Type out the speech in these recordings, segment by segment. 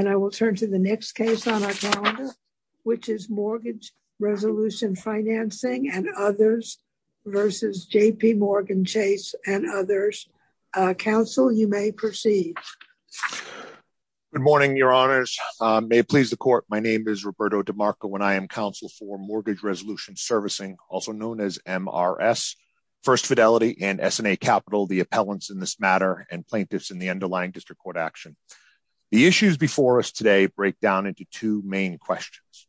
And I will turn to the next case on our calendar, which is Mortgage Resolution Financing and Others versus JPMorgan Chase and Others. Counsel, you may proceed. Good morning, your honors. May it please the court. My name is Roberto DeMarco, and I am counsel for Mortgage Resolution Servicing, also known as MRS, First Fidelity, and S&A Capital, the appellants in this matter, and plaintiffs in the underlying district court action. The issues before us today break down into two main questions.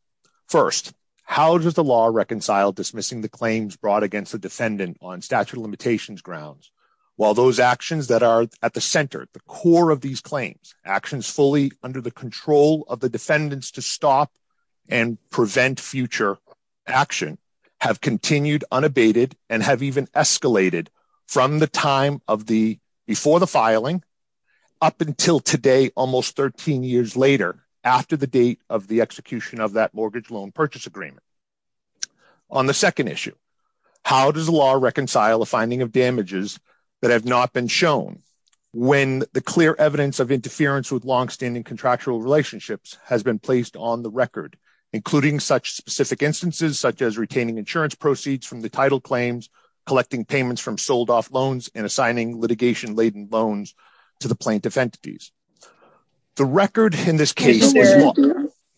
First, how does the law reconcile dismissing the claims brought against the defendant on statute of limitations grounds, while those actions that are at the center, at the core of these claims, actions fully under the control of the defendants to stop and prevent future action, have continued unabated and have even escalated from the time of the, before the filing up until today, almost 13 years later, after the date of the execution of that mortgage loan purchase agreement. On the second issue, how does the law reconcile the finding of damages that have not been shown when the clear evidence of interference with longstanding contractual relationships has been placed on the record, including such specific instances, such as retaining insurance proceeds from the title claims, collecting payments from sold off loans and assigning litigation laden loans to the plaintiff entities. The record in this case is-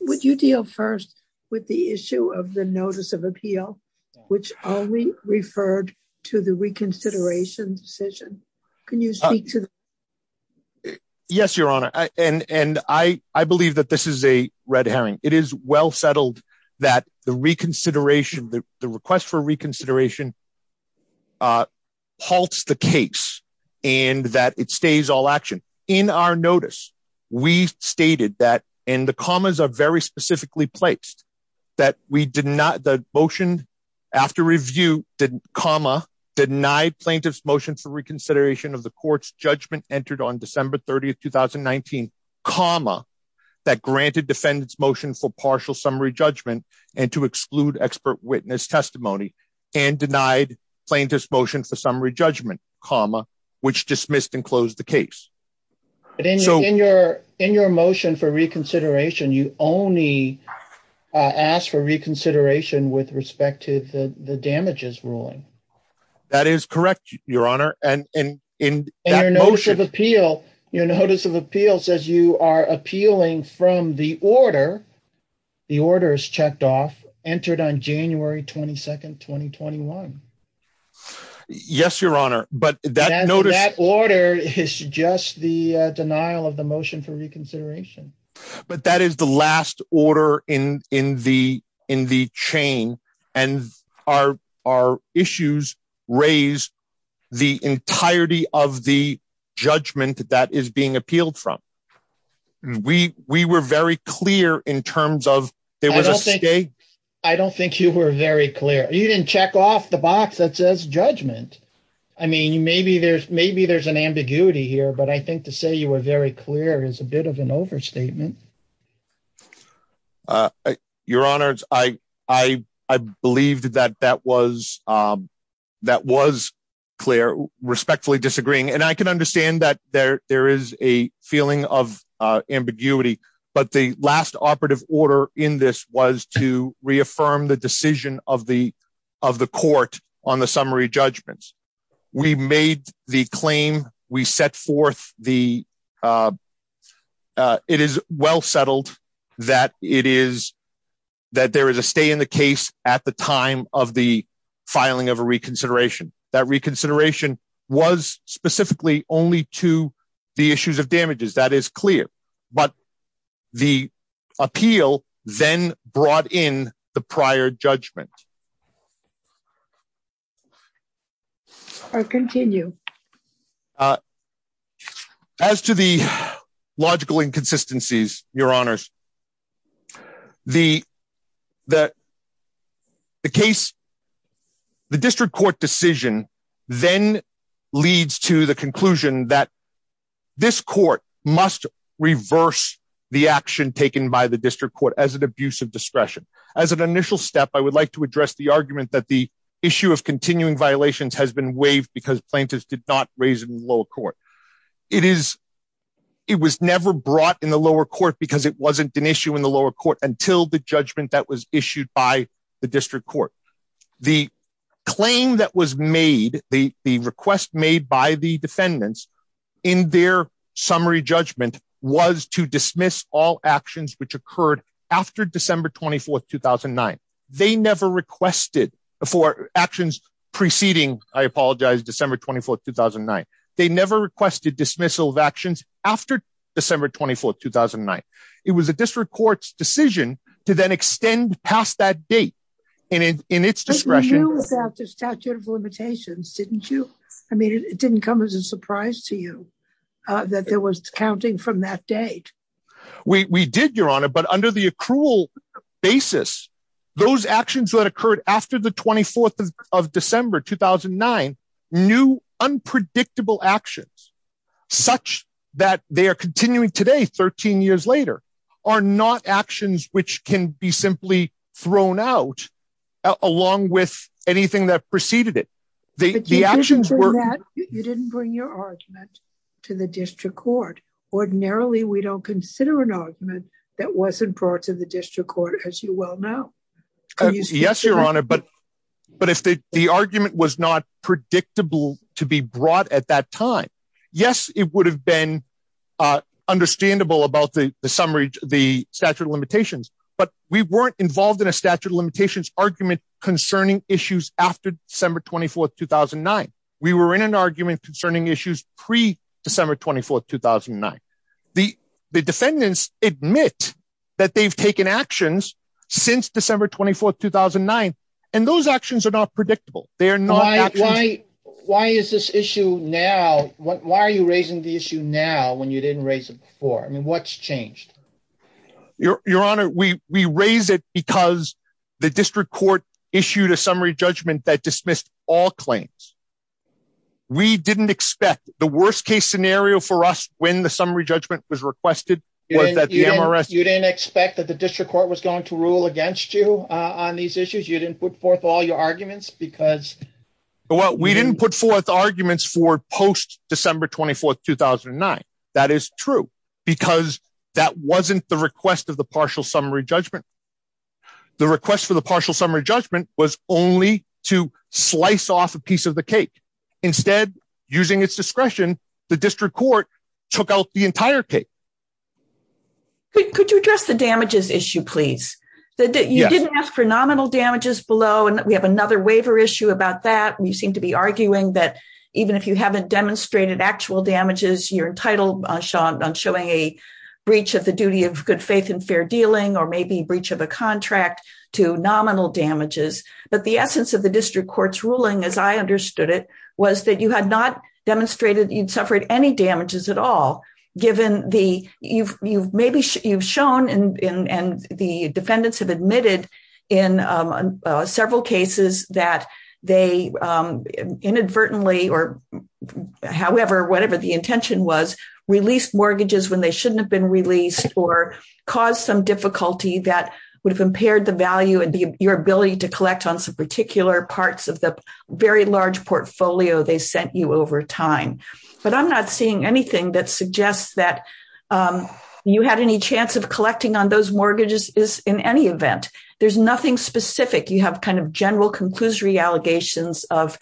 Would you deal first with the issue of the notice of appeal, which only referred to the reconsideration decision? Can you speak to that? Yes, your honor. And I believe that this is a red herring. It is well settled that the reconsideration, the request for reconsideration halts the case and that it stays all action. In our notice, we stated that, and the commas are very specifically placed, that we did not, the motion after review, did comma, deny plaintiff's motion for reconsideration of the court's judgment entered on December 30th, 2019, comma, that granted defendants motion for partial summary judgment and to exclude expert witness testimony and denied plaintiff's motion for summary judgment, comma, which dismissed and closed the case. But in your motion for reconsideration, you only ask for reconsideration with respect to the damages ruling. That is correct, your honor. And in that motion- And your notice of appeal, your notice of appeal says you are appealing from the order. The order is checked off, entered on January 22nd, 2021. Yes, your honor. But that notice- And that order is just the denial of the motion for reconsideration. But that is the last order in the chain. And our issues raise the entirety of the judgment that is being appealed from. We were very clear in terms of there was a state- I don't think you were very clear. You didn't check off the box that says judgment. I mean, maybe there's an ambiguity here, but I think to say you were very clear is a bit of an overstatement. Your honors, I believed that that was clear, respectfully disagreeing. And I can understand that there is a feeling of ambiguity, but the last operative order in this was to reaffirm the decision of the court on the summary judgments. We made the claim, we set forth the... It is well-settled that there is a stay in the case at the time of the filing of a reconsideration. That reconsideration was specifically only to the issues of damages. That is clear. But the appeal then brought in the prior judgment. I'll continue. As to the logical inconsistencies, your honors, the case, the district court decision then leads to the conclusion that this court must reverse the action taken by the district court as an abuse of discretion. As an initial step, I would like to address the argument that the issue of continuing violations has been waived because plaintiffs did not raise it in the lower court. It was never brought in the lower court because it wasn't an issue in the lower court until the judgment that was issued by the district court. The claim that was made, the request made by the defendants in their summary judgment was to dismiss all actions which occurred after December 24th, 2009. They never requested for actions preceding, I apologize, December 24th, 2009. They never requested dismissal of actions after December 24th, 2009. It was a district court's decision to then extend past that date in its discretion. You knew about the statute of limitations, didn't you? I mean, it didn't come as a surprise to you that there was counting from that date. We did, your honor, but under the accrual basis, those actions that occurred after the 24th of December, 2009 new unpredictable actions such that they are continuing today 13 years later are not actions which can be simply thrown out along with anything that preceded it. The actions were- But you didn't bring your argument to the district court. Ordinarily, we don't consider an argument that wasn't brought to the district court as you well know. Yes, your honor, but if the argument was not predictable to be brought at that time, yes, it would have been understandable about the statute of limitations, but we weren't involved in a statute of limitations argument concerning issues after December 24th, 2009. We were in an argument concerning issues pre-December 24th, 2009. The defendants admit that they've taken actions since December 24th, 2009, and those actions are not predictable. They are not actions- Why is this issue now? Why are you raising the issue now when you didn't raise it before? I mean, what's changed? Your honor, we raise it because the district court issued a summary judgment that dismissed all claims. We didn't expect, the worst case scenario for us when the summary judgment was requested was that the MRS- to rule against you on these issues. You didn't put forth all your arguments because- Well, we didn't put forth arguments for post-December 24th, 2009. That is true because that wasn't the request of the partial summary judgment. The request for the partial summary judgment was only to slice off a piece of the cake. Instead, using its discretion, the district court took out the entire cake. Could you address the damages issue, please? You didn't ask for nominal damages below, and we have another waiver issue about that. We seem to be arguing that even if you haven't demonstrated actual damages, you're entitled, Sean, on showing a breach of the duty of good faith and fair dealing, or maybe breach of a contract to nominal damages. But the essence of the district court's ruling, as I understood it, was that you had not demonstrated you'd suffered any damages at all given the, you've shown, and the defendants have admitted in several cases that they inadvertently, or however, whatever the intention was, released mortgages when they shouldn't have been released or caused some difficulty that would have impaired the value and your ability to collect on some particular parts of the very large portfolio they sent you over time. But I'm not seeing anything that suggests that you had any chance of collecting on those mortgages is in any event. There's nothing specific. You have kind of general conclusory allegations of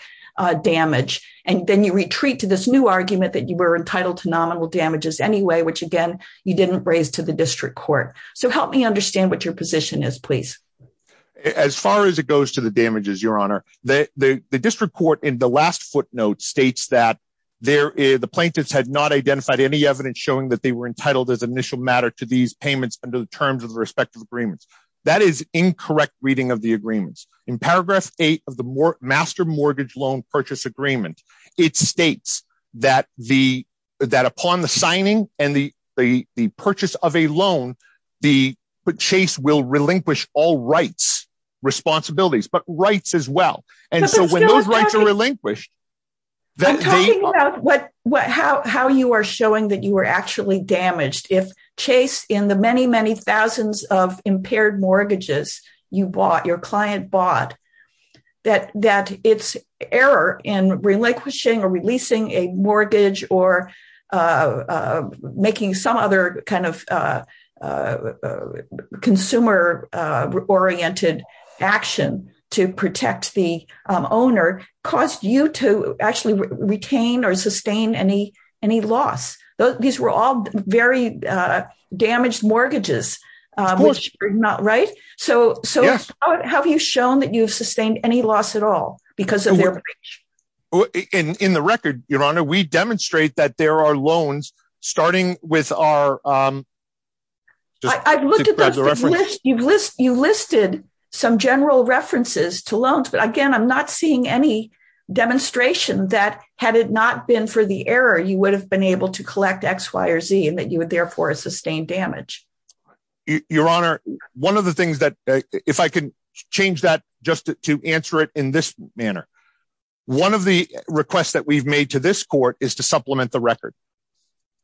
damage. And then you retreat to this new argument that you were entitled to nominal damages anyway, which again, you didn't raise to the district court. So help me understand what your position is, please. As far as it goes to the damages, Your Honor, the district court in the last footnote states that the plaintiffs had not identified any evidence showing that they were entitled as initial matter to these payments under the terms of the respective agreements. That is incorrect reading of the agreements. In paragraph eight of the Master Mortgage Loan Purchase Agreement, it states that upon the signing and the purchase of a loan, the chase will relinquish all rights, responsibilities, but rights as well. And so when those rights are relinquished, then the- I'm talking about how you are showing that you were actually damaged. If chase in the many, many thousands of impaired mortgages you bought, your client bought, that it's error in relinquishing or releasing a mortgage or making some other kind of consumer oriented action to protect the owner, caused you to actually retain or sustain any loss. These were all very damaged mortgages, which are not right. So how have you shown that you've sustained any loss at all because of their breach? In the record, Your Honor, we demonstrate that there are loans starting with our- I've looked at the list. You listed some general references to loans, but again, I'm not seeing any demonstration that had it not been for the error, you would have been able to collect X, Y, or Z and that you would therefore have sustained damage. Your Honor, one of the things that, if I can change that just to answer it in this manner, one of the requests that we've made to this court is to supplement the record.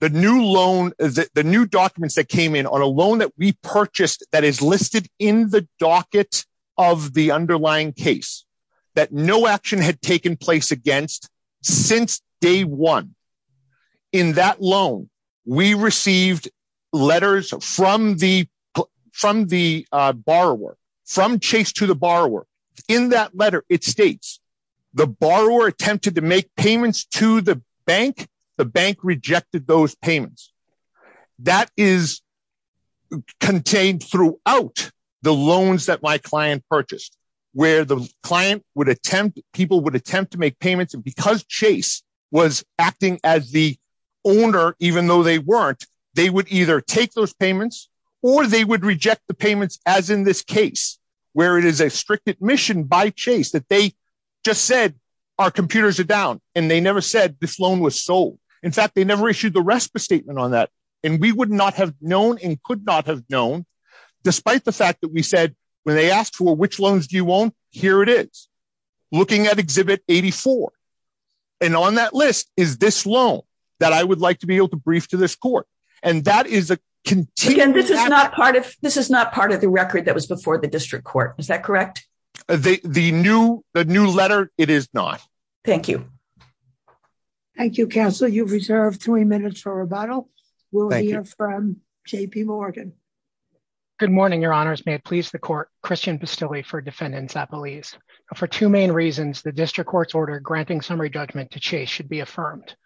The new loan, the new documents that came in on a loan that we purchased that is listed in the docket of the underlying case that no action had taken place against since day one. In that loan, we received letters from the borrower, from Chase to the borrower. In that letter, it states, the borrower attempted to make payments to the bank, the bank rejected those payments. That is contained throughout the loans that my client purchased, where the client would attempt, people would attempt to make payments and because Chase was acting as the owner, even though they weren't, they would either take those payments or they would reject the payments as in this case, where it is a strict admission by Chase that they just said, our computers are down and they never said this loan was sold. In fact, they never issued the RESPA statement on that. And we would not have known and could not have known, despite the fact that we said, when they asked for which loans do you want, here it is, looking at exhibit 84. And on that list is this loan that I would like to be able to brief to this court. And that is a- Again, this is not part of the record that was before the district court, is that correct? The new letter, it is not. Thank you. Thank you, counsel. You've reserved three minutes for rebuttal. We'll hear from JP Morgan. Good morning, your honors. May it please the court, Christian Bastilli for defendants at police. For two main reasons, the district court's order granting summary judgment to Chase should be affirmed.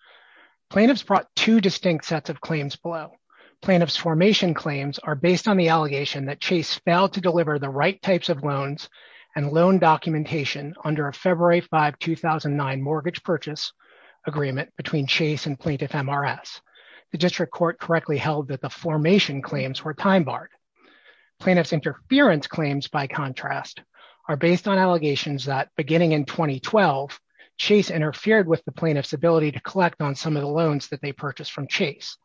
Plaintiffs brought two distinct sets of claims below. Plaintiffs formation claims are based on the allegation that Chase failed to deliver the right types of loans and loan documentation under a February 5, 2009 mortgage purchase agreement between Chase and plaintiff MRS. The district court correctly held that the formation claims were time-barred. Plaintiff's interference claims, by contrast, are based on allegations that beginning in 2012, Chase interfered with the plaintiff's ability to collect on some of the loans that they purchased from Chase.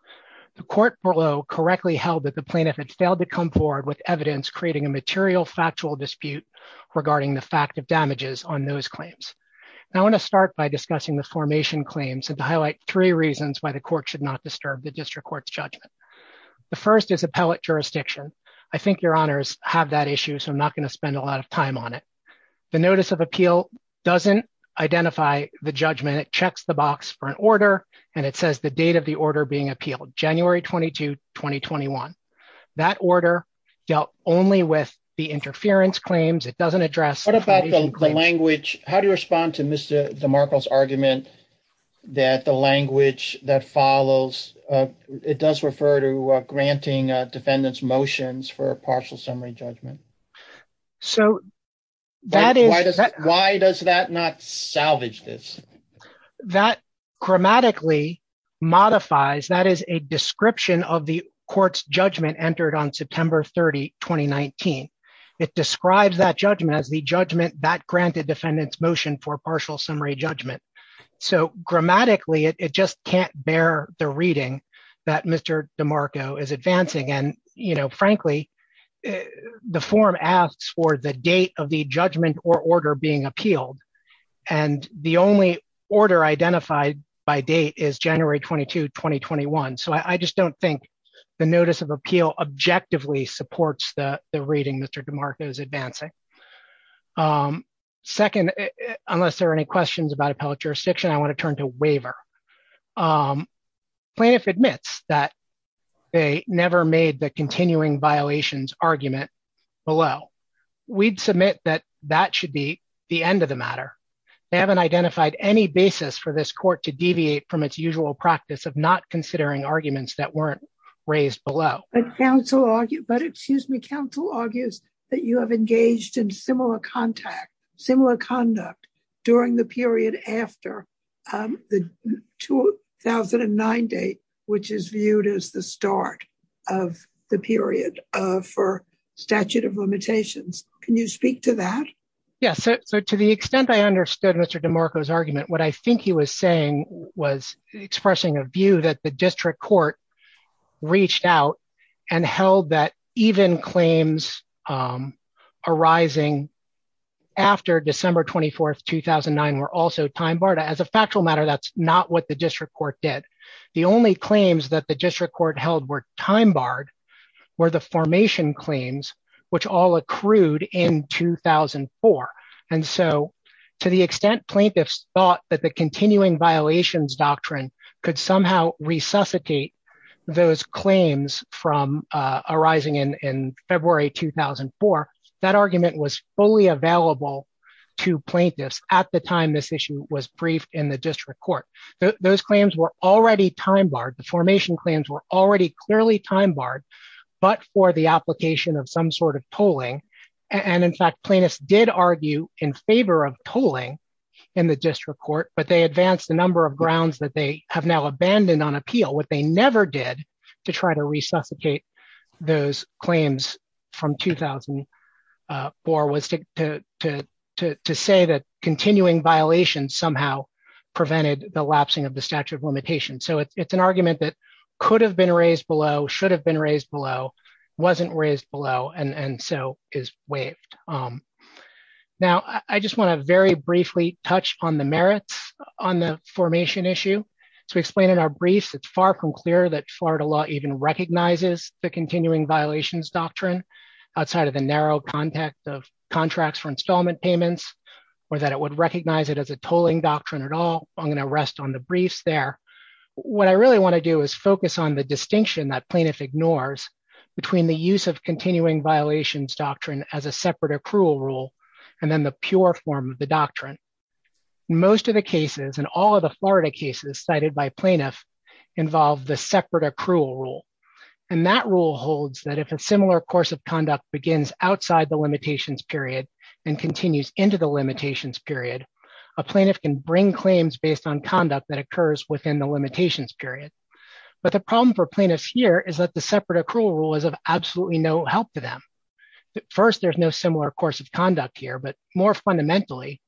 The court below correctly held that the plaintiff had failed to come forward with evidence creating a material factual dispute regarding the fact of damages on those claims. Now I wanna start by discussing the formation claims and to highlight three reasons why the court should not disturb the district court's judgment. The first is appellate jurisdiction. I think your honors have that issue, so I'm not gonna spend a lot of time on it. The notice of appeal doesn't identify the judgment. It checks the box for an order, and it says the date of the order being appealed, January 22, 2021. That order dealt only with the interference claims. It doesn't address- What about the language? How do you respond to Mr. DeMarco's argument that the language that follows, it does refer to granting defendants' motions for a partial summary judgment? So that is- Why does that not salvage this? That grammatically modifies, that is a description of the court's judgment entered on September 30, 2019. It describes that judgment as the judgment that granted defendants' motion for partial summary judgment. So grammatically, it just can't bear the reading that Mr. DeMarco is advancing. And frankly, the form asks for the date of the judgment or order being appealed. And the only order identified by date is January 22, 2021. So I just don't think the notice of appeal objectively supports the reading Mr. DeMarco is advancing. Second, unless there are any questions about appellate jurisdiction, I want to turn to waiver. Plaintiff admits that they never made the continuing violations argument below. We'd submit that that should be the end of the matter. They haven't identified any basis for this court to deviate from its usual practice of not considering arguments that weren't raised below. But counsel argue, but excuse me, counsel argues that you have engaged in similar contact, similar conduct during the period after the 2009 date, which is viewed as the start of the period for statute of limitations. Can you speak to that? Yes, so to the extent I understood Mr. DeMarco's argument, what I think he was saying was expressing a view that the district court reached out and held that even claims arising after December 24th, 2009 were also time barred. As a factual matter, that's not what the district court did. The only claims that the district court held were time barred were the formation claims, which all accrued in 2004. And so to the extent plaintiffs thought that the continuing violations doctrine could somehow resuscitate those claims from arising in February, 2004, that argument was fully available to plaintiffs at the time this issue was briefed in the district court. Those claims were already time barred. The formation claims were already clearly time barred, but for the application of some sort of polling. And in fact, plaintiffs did argue in favor of polling in the district court, but they advanced the number of grounds that they have now abandoned on appeal. What they never did to try to resuscitate those claims from 2004 was to say that continuing violations somehow prevented the lapsing of the statute of limitations. So it's an argument that could have been raised below, should have been raised below, wasn't raised below. And so is waived. Now, I just wanna very briefly touch on the merits on the formation issue. So we explained in our briefs, it's far from clear that Florida law even recognizes the continuing violations doctrine outside of the narrow context of contracts for installment payments, or that it would recognize it as a tolling doctrine at all. I'm gonna rest on the briefs there. What I really wanna do is focus on the distinction that plaintiff ignores between the use of continuing violations doctrine as a separate accrual rule, and then the pure form of the doctrine. Most of the cases and all of the Florida cases cited by plaintiff involve the separate accrual rule. And that rule holds that if a similar course of conduct begins outside the limitations period and continues into the limitations period, a plaintiff can bring claims based on conduct that occurs within the limitations period. But the problem for plaintiffs here is that the separate accrual rule is of absolutely no help to them. First, there's no similar course of conduct here, but more fundamentally,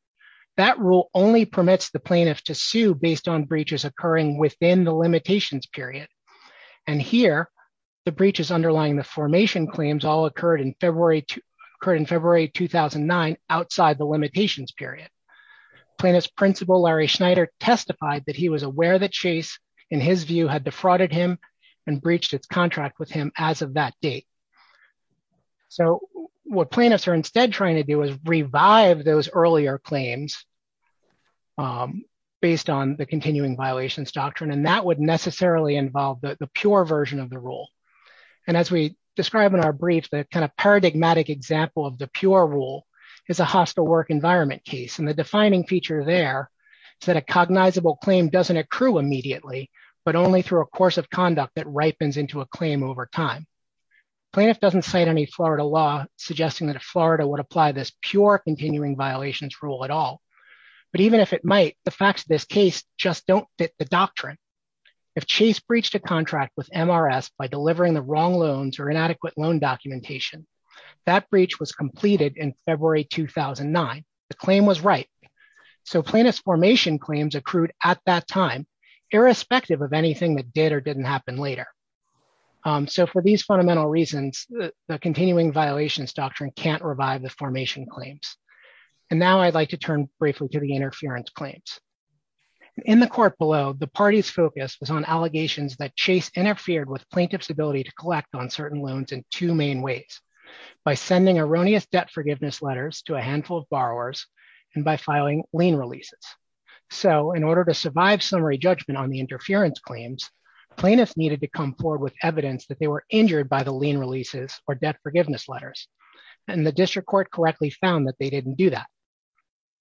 that rule only permits the plaintiff to sue based on breaches occurring within the limitations period. And here, the breaches underlying the formation claims all occurred in February 2009 outside the limitations period. Plaintiff's principal, Larry Schneider, testified that he was aware that Chase, in his view, had defrauded him and breached its contract with him as of that date. So what plaintiffs are instead trying to do is revive those earlier claims based on the continuing violations doctrine, and that would necessarily involve the pure version of the rule. And as we describe in our brief, the kind of paradigmatic example of the pure rule is a hostile work environment case. And the defining feature there is that a cognizable claim doesn't accrue immediately, but only through a course of conduct that ripens into a claim over time. Plaintiff doesn't cite any Florida law suggesting that a Florida would apply this pure continuing violations rule at all. But even if it might, the facts of this case just don't fit the doctrine. If Chase breached a contract with MRS by delivering the wrong loans or inadequate loan documentation, that breach was completed in February 2009. The claim was right. So plaintiff's formation claims accrued at that time, irrespective of anything that did or didn't happen later. So for these fundamental reasons, the continuing violations doctrine can't revive the formation claims. And now I'd like to turn briefly to the interference claims. In the court below, the party's focus was on allegations that Chase interfered with plaintiff's ability to collect on certain loans in two main ways, by sending erroneous debt forgiveness letters to a handful of borrowers and by filing lien releases. So in order to survive summary judgment on the interference claims, plaintiffs needed to come forward with evidence that they were injured by the lien releases or debt forgiveness letters. And the district court correctly found that they didn't do that.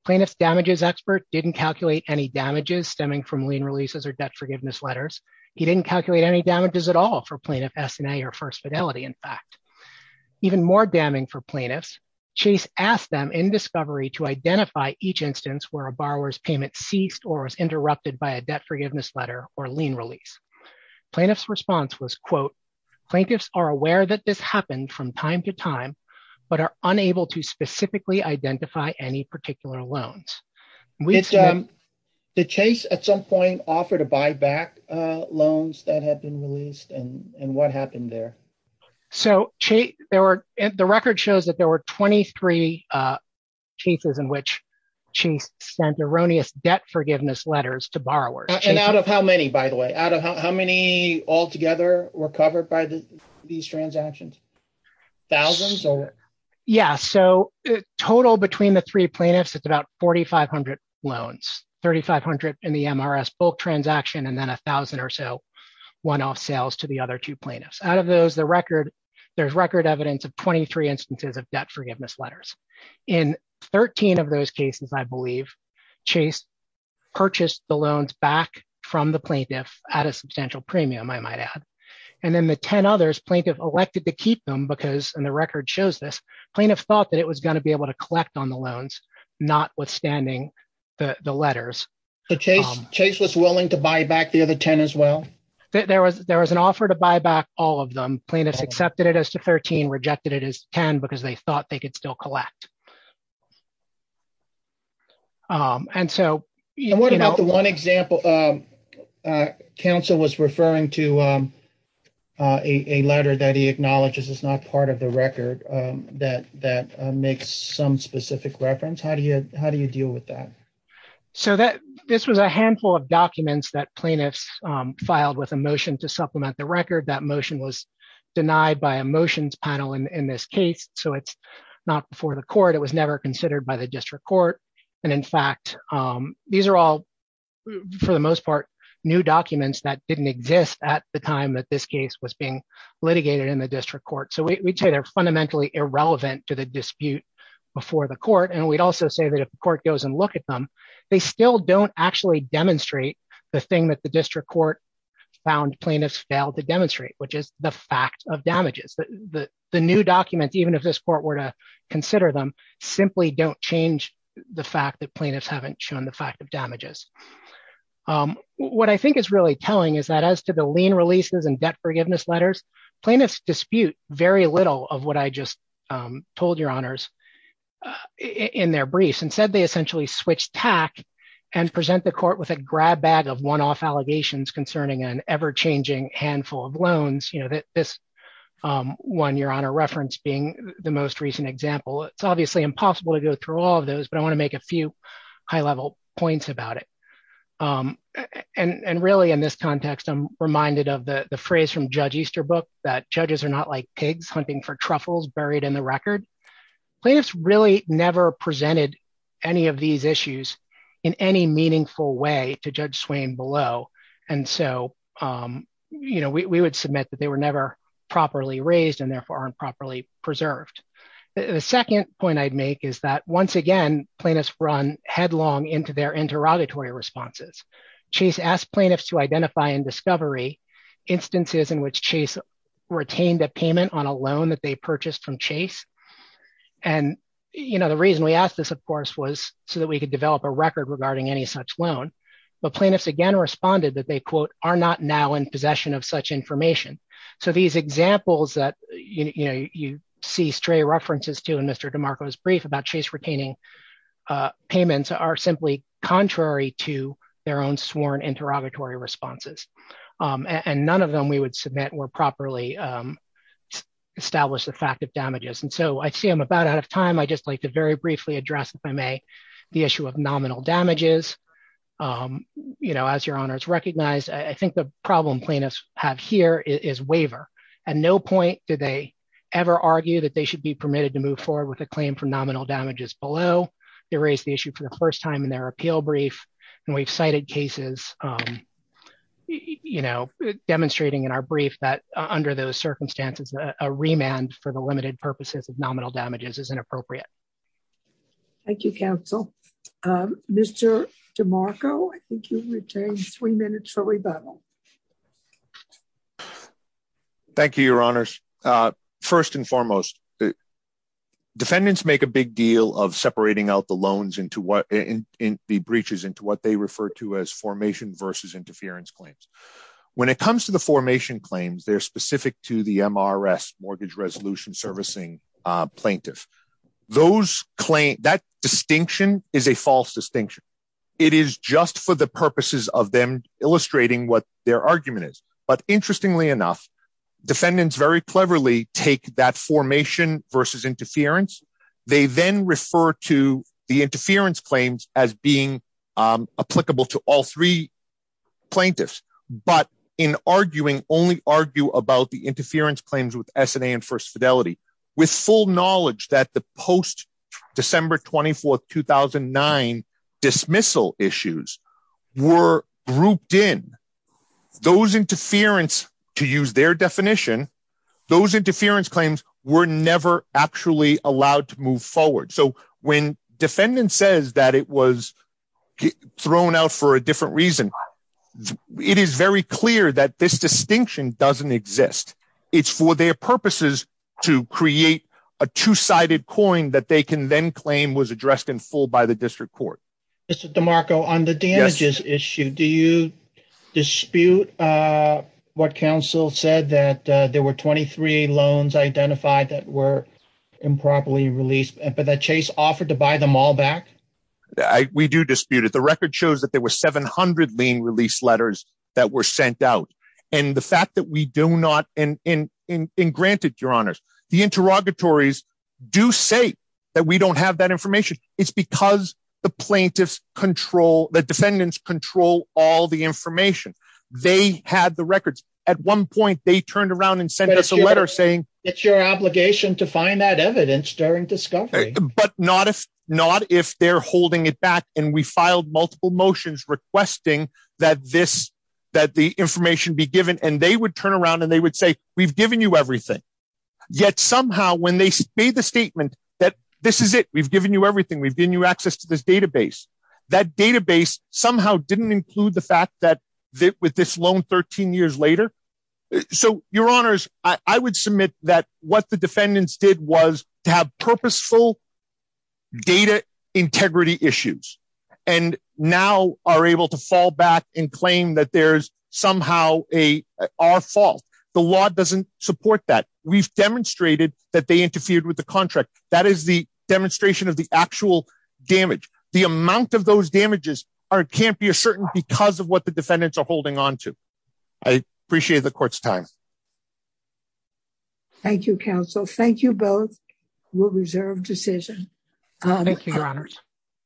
Plaintiff's damages expert didn't calculate any damages stemming from lien releases or debt forgiveness letters. He didn't calculate any damages at all for plaintiff SNA or first fidelity in fact. Even more damning for plaintiffs, Chase asked them in discovery to identify each instance where a borrower's payment ceased or was interrupted by a debt forgiveness letter or lien release. Plaintiff's response was quote, plaintiffs are aware that this happened from time to time, but are unable to specifically identify any particular loans. Did Chase at some point offer to buy back loans that had been released and what happened there? So the record shows that there were 23 cases in which Chase sent erroneous debt forgiveness letters to borrowers. And out of how many, by the way, out of how many altogether were covered by these transactions? Thousands or? Yeah, so total between the three plaintiffs, it's about 4,500 loans. 3,500 in the MRS bulk transaction and then a thousand or so one-off sales to the other two plaintiffs. Out of those, there's record evidence of 23 instances of debt forgiveness letters. In 13 of those cases, I believe, Chase purchased the loans back from the plaintiff at a substantial premium, I might add. And then the 10 others, plaintiff elected to keep them because, and the record shows this, plaintiff thought that it was gonna be able to collect on the loans, notwithstanding the letters. So Chase was willing to buy back the other 10 as well? There was an offer to buy back all of them. Plaintiffs accepted it as to 13, rejected it as 10 because they thought they could still collect. And so- And what about the one example, counsel was referring to a letter that he acknowledges is not part of the record that makes some specific reference. How do you deal with that? So this was a handful of documents that plaintiffs filed with a motion to supplement the record. That motion was denied by a motions panel in this case. So it's not before the court, it was never considered by the district court. And in fact, these are all for the most part, new documents that didn't exist at the time that this case was being litigated in the district court. So we'd say they're fundamentally irrelevant to the dispute before the court. And we'd also say that if the court goes and look at them, they still don't actually demonstrate the thing that the district court found plaintiffs failed to demonstrate, which is the fact of damages. The new documents, even if this court were to consider them, simply don't change the fact that plaintiffs haven't shown the fact of damages. What I think is really telling is that as to the lien releases and debt forgiveness letters, plaintiffs dispute very little of what I just told your honors in their briefs. And said they essentially switched tack and present the court with a grab bag of one-off allegations concerning an ever-changing handful of loans. This one your honor referenced being the most recent example. It's obviously impossible to go through all of those, but I wanna make a few high-level points about it. And really in this context, I'm reminded of the phrase from Judge Easterbrook that judges are not like pigs hunting for truffles buried in the record. Plaintiffs really never presented any of these issues in any meaningful way to Judge Swain below. And so we would submit that they were never properly raised and therefore aren't properly preserved. The second point I'd make is that once again, plaintiffs run headlong into their interrogatory responses. Chase asked plaintiffs to identify and discovery instances in which Chase retained a payment on a loan that they purchased from Chase. And the reason we asked this of course was so that we could develop a record regarding any such loan. But plaintiffs again responded that they quote, are not now in possession of such information. So these examples that you see stray references to in Mr. DeMarco's brief about Chase retaining payments are simply contrary to their own sworn interrogatory responses. And none of them we would submit were properly established the fact of damages. And so I see I'm about out of time. I just like to very briefly address if I may, the issue of nominal damages. As your honors recognize, I think the problem plaintiffs have here is waiver. At no point did they ever argue that they should be permitted to move forward with a claim for nominal damages below. They raised the issue for the first time in their appeal brief, and we've cited cases demonstrating in our brief that under those circumstances, a remand for the limited purposes of nominal damages is inappropriate. Thank you, counsel, Mr. DeMarco, I think you've retained three minutes for rebuttal. Thank you, your honors. First and foremost, defendants make a big deal of separating out the loans into what in the breaches into what they refer to as formation versus interference claims. When it comes to the formation claims, they're specific to the MRS, Mortgage Resolution Servicing Plaintiff. Those claims, that distinction is a false distinction. It is just for the purposes of them illustrating what their argument is. But interestingly enough, defendants very cleverly take that formation versus interference. They then refer to the interference claims as being applicable to all three plaintiffs, but in arguing only argue about the interference claims with SNA and First Fidelity, with full knowledge that the post December 24th, 2009 dismissal issues were grouped in, those interference to use their definition, those interference claims were never actually allowed to move forward. So when defendant says that it was thrown out for a different reason, it is very clear that this distinction doesn't exist. It's for their purposes to create a two-sided coin that they can then claim was addressed in full by the district court. Mr. DeMarco, on the damages issue, do you dispute what counsel said that there were 23 loans identified that were improperly released, but that Chase offered to buy them all back? We do dispute it. The record shows that there were 700 lien release letters that were sent out. And the fact that we do not, and granted your honors, the interrogatories do say that we don't have that information. It's because the plaintiffs control, the defendants control all the information. They had the records. At one point they turned around and sent us a letter saying- It's your obligation to find that evidence during discovery. But not if they're holding it back and we filed multiple motions requesting that the information be given. And they would turn around and they would say, we've given you everything. Yet somehow when they made the statement that this is it, we've given you everything, we've given you access to this database, that database somehow didn't include the fact that with this loan 13 years later. So your honors, I would submit that what the defendants did was to have purposeful data integrity issues and now are able to fall back and claim that there's somehow our fault. The law doesn't support that. We've demonstrated that they interfered with the contract. That is the demonstration of the actual damage. The amount of those damages can't be a certain because of what the defendants are holding onto. I appreciate the court's time. Thank you both. We'll reserve decision. Thank you, your honors.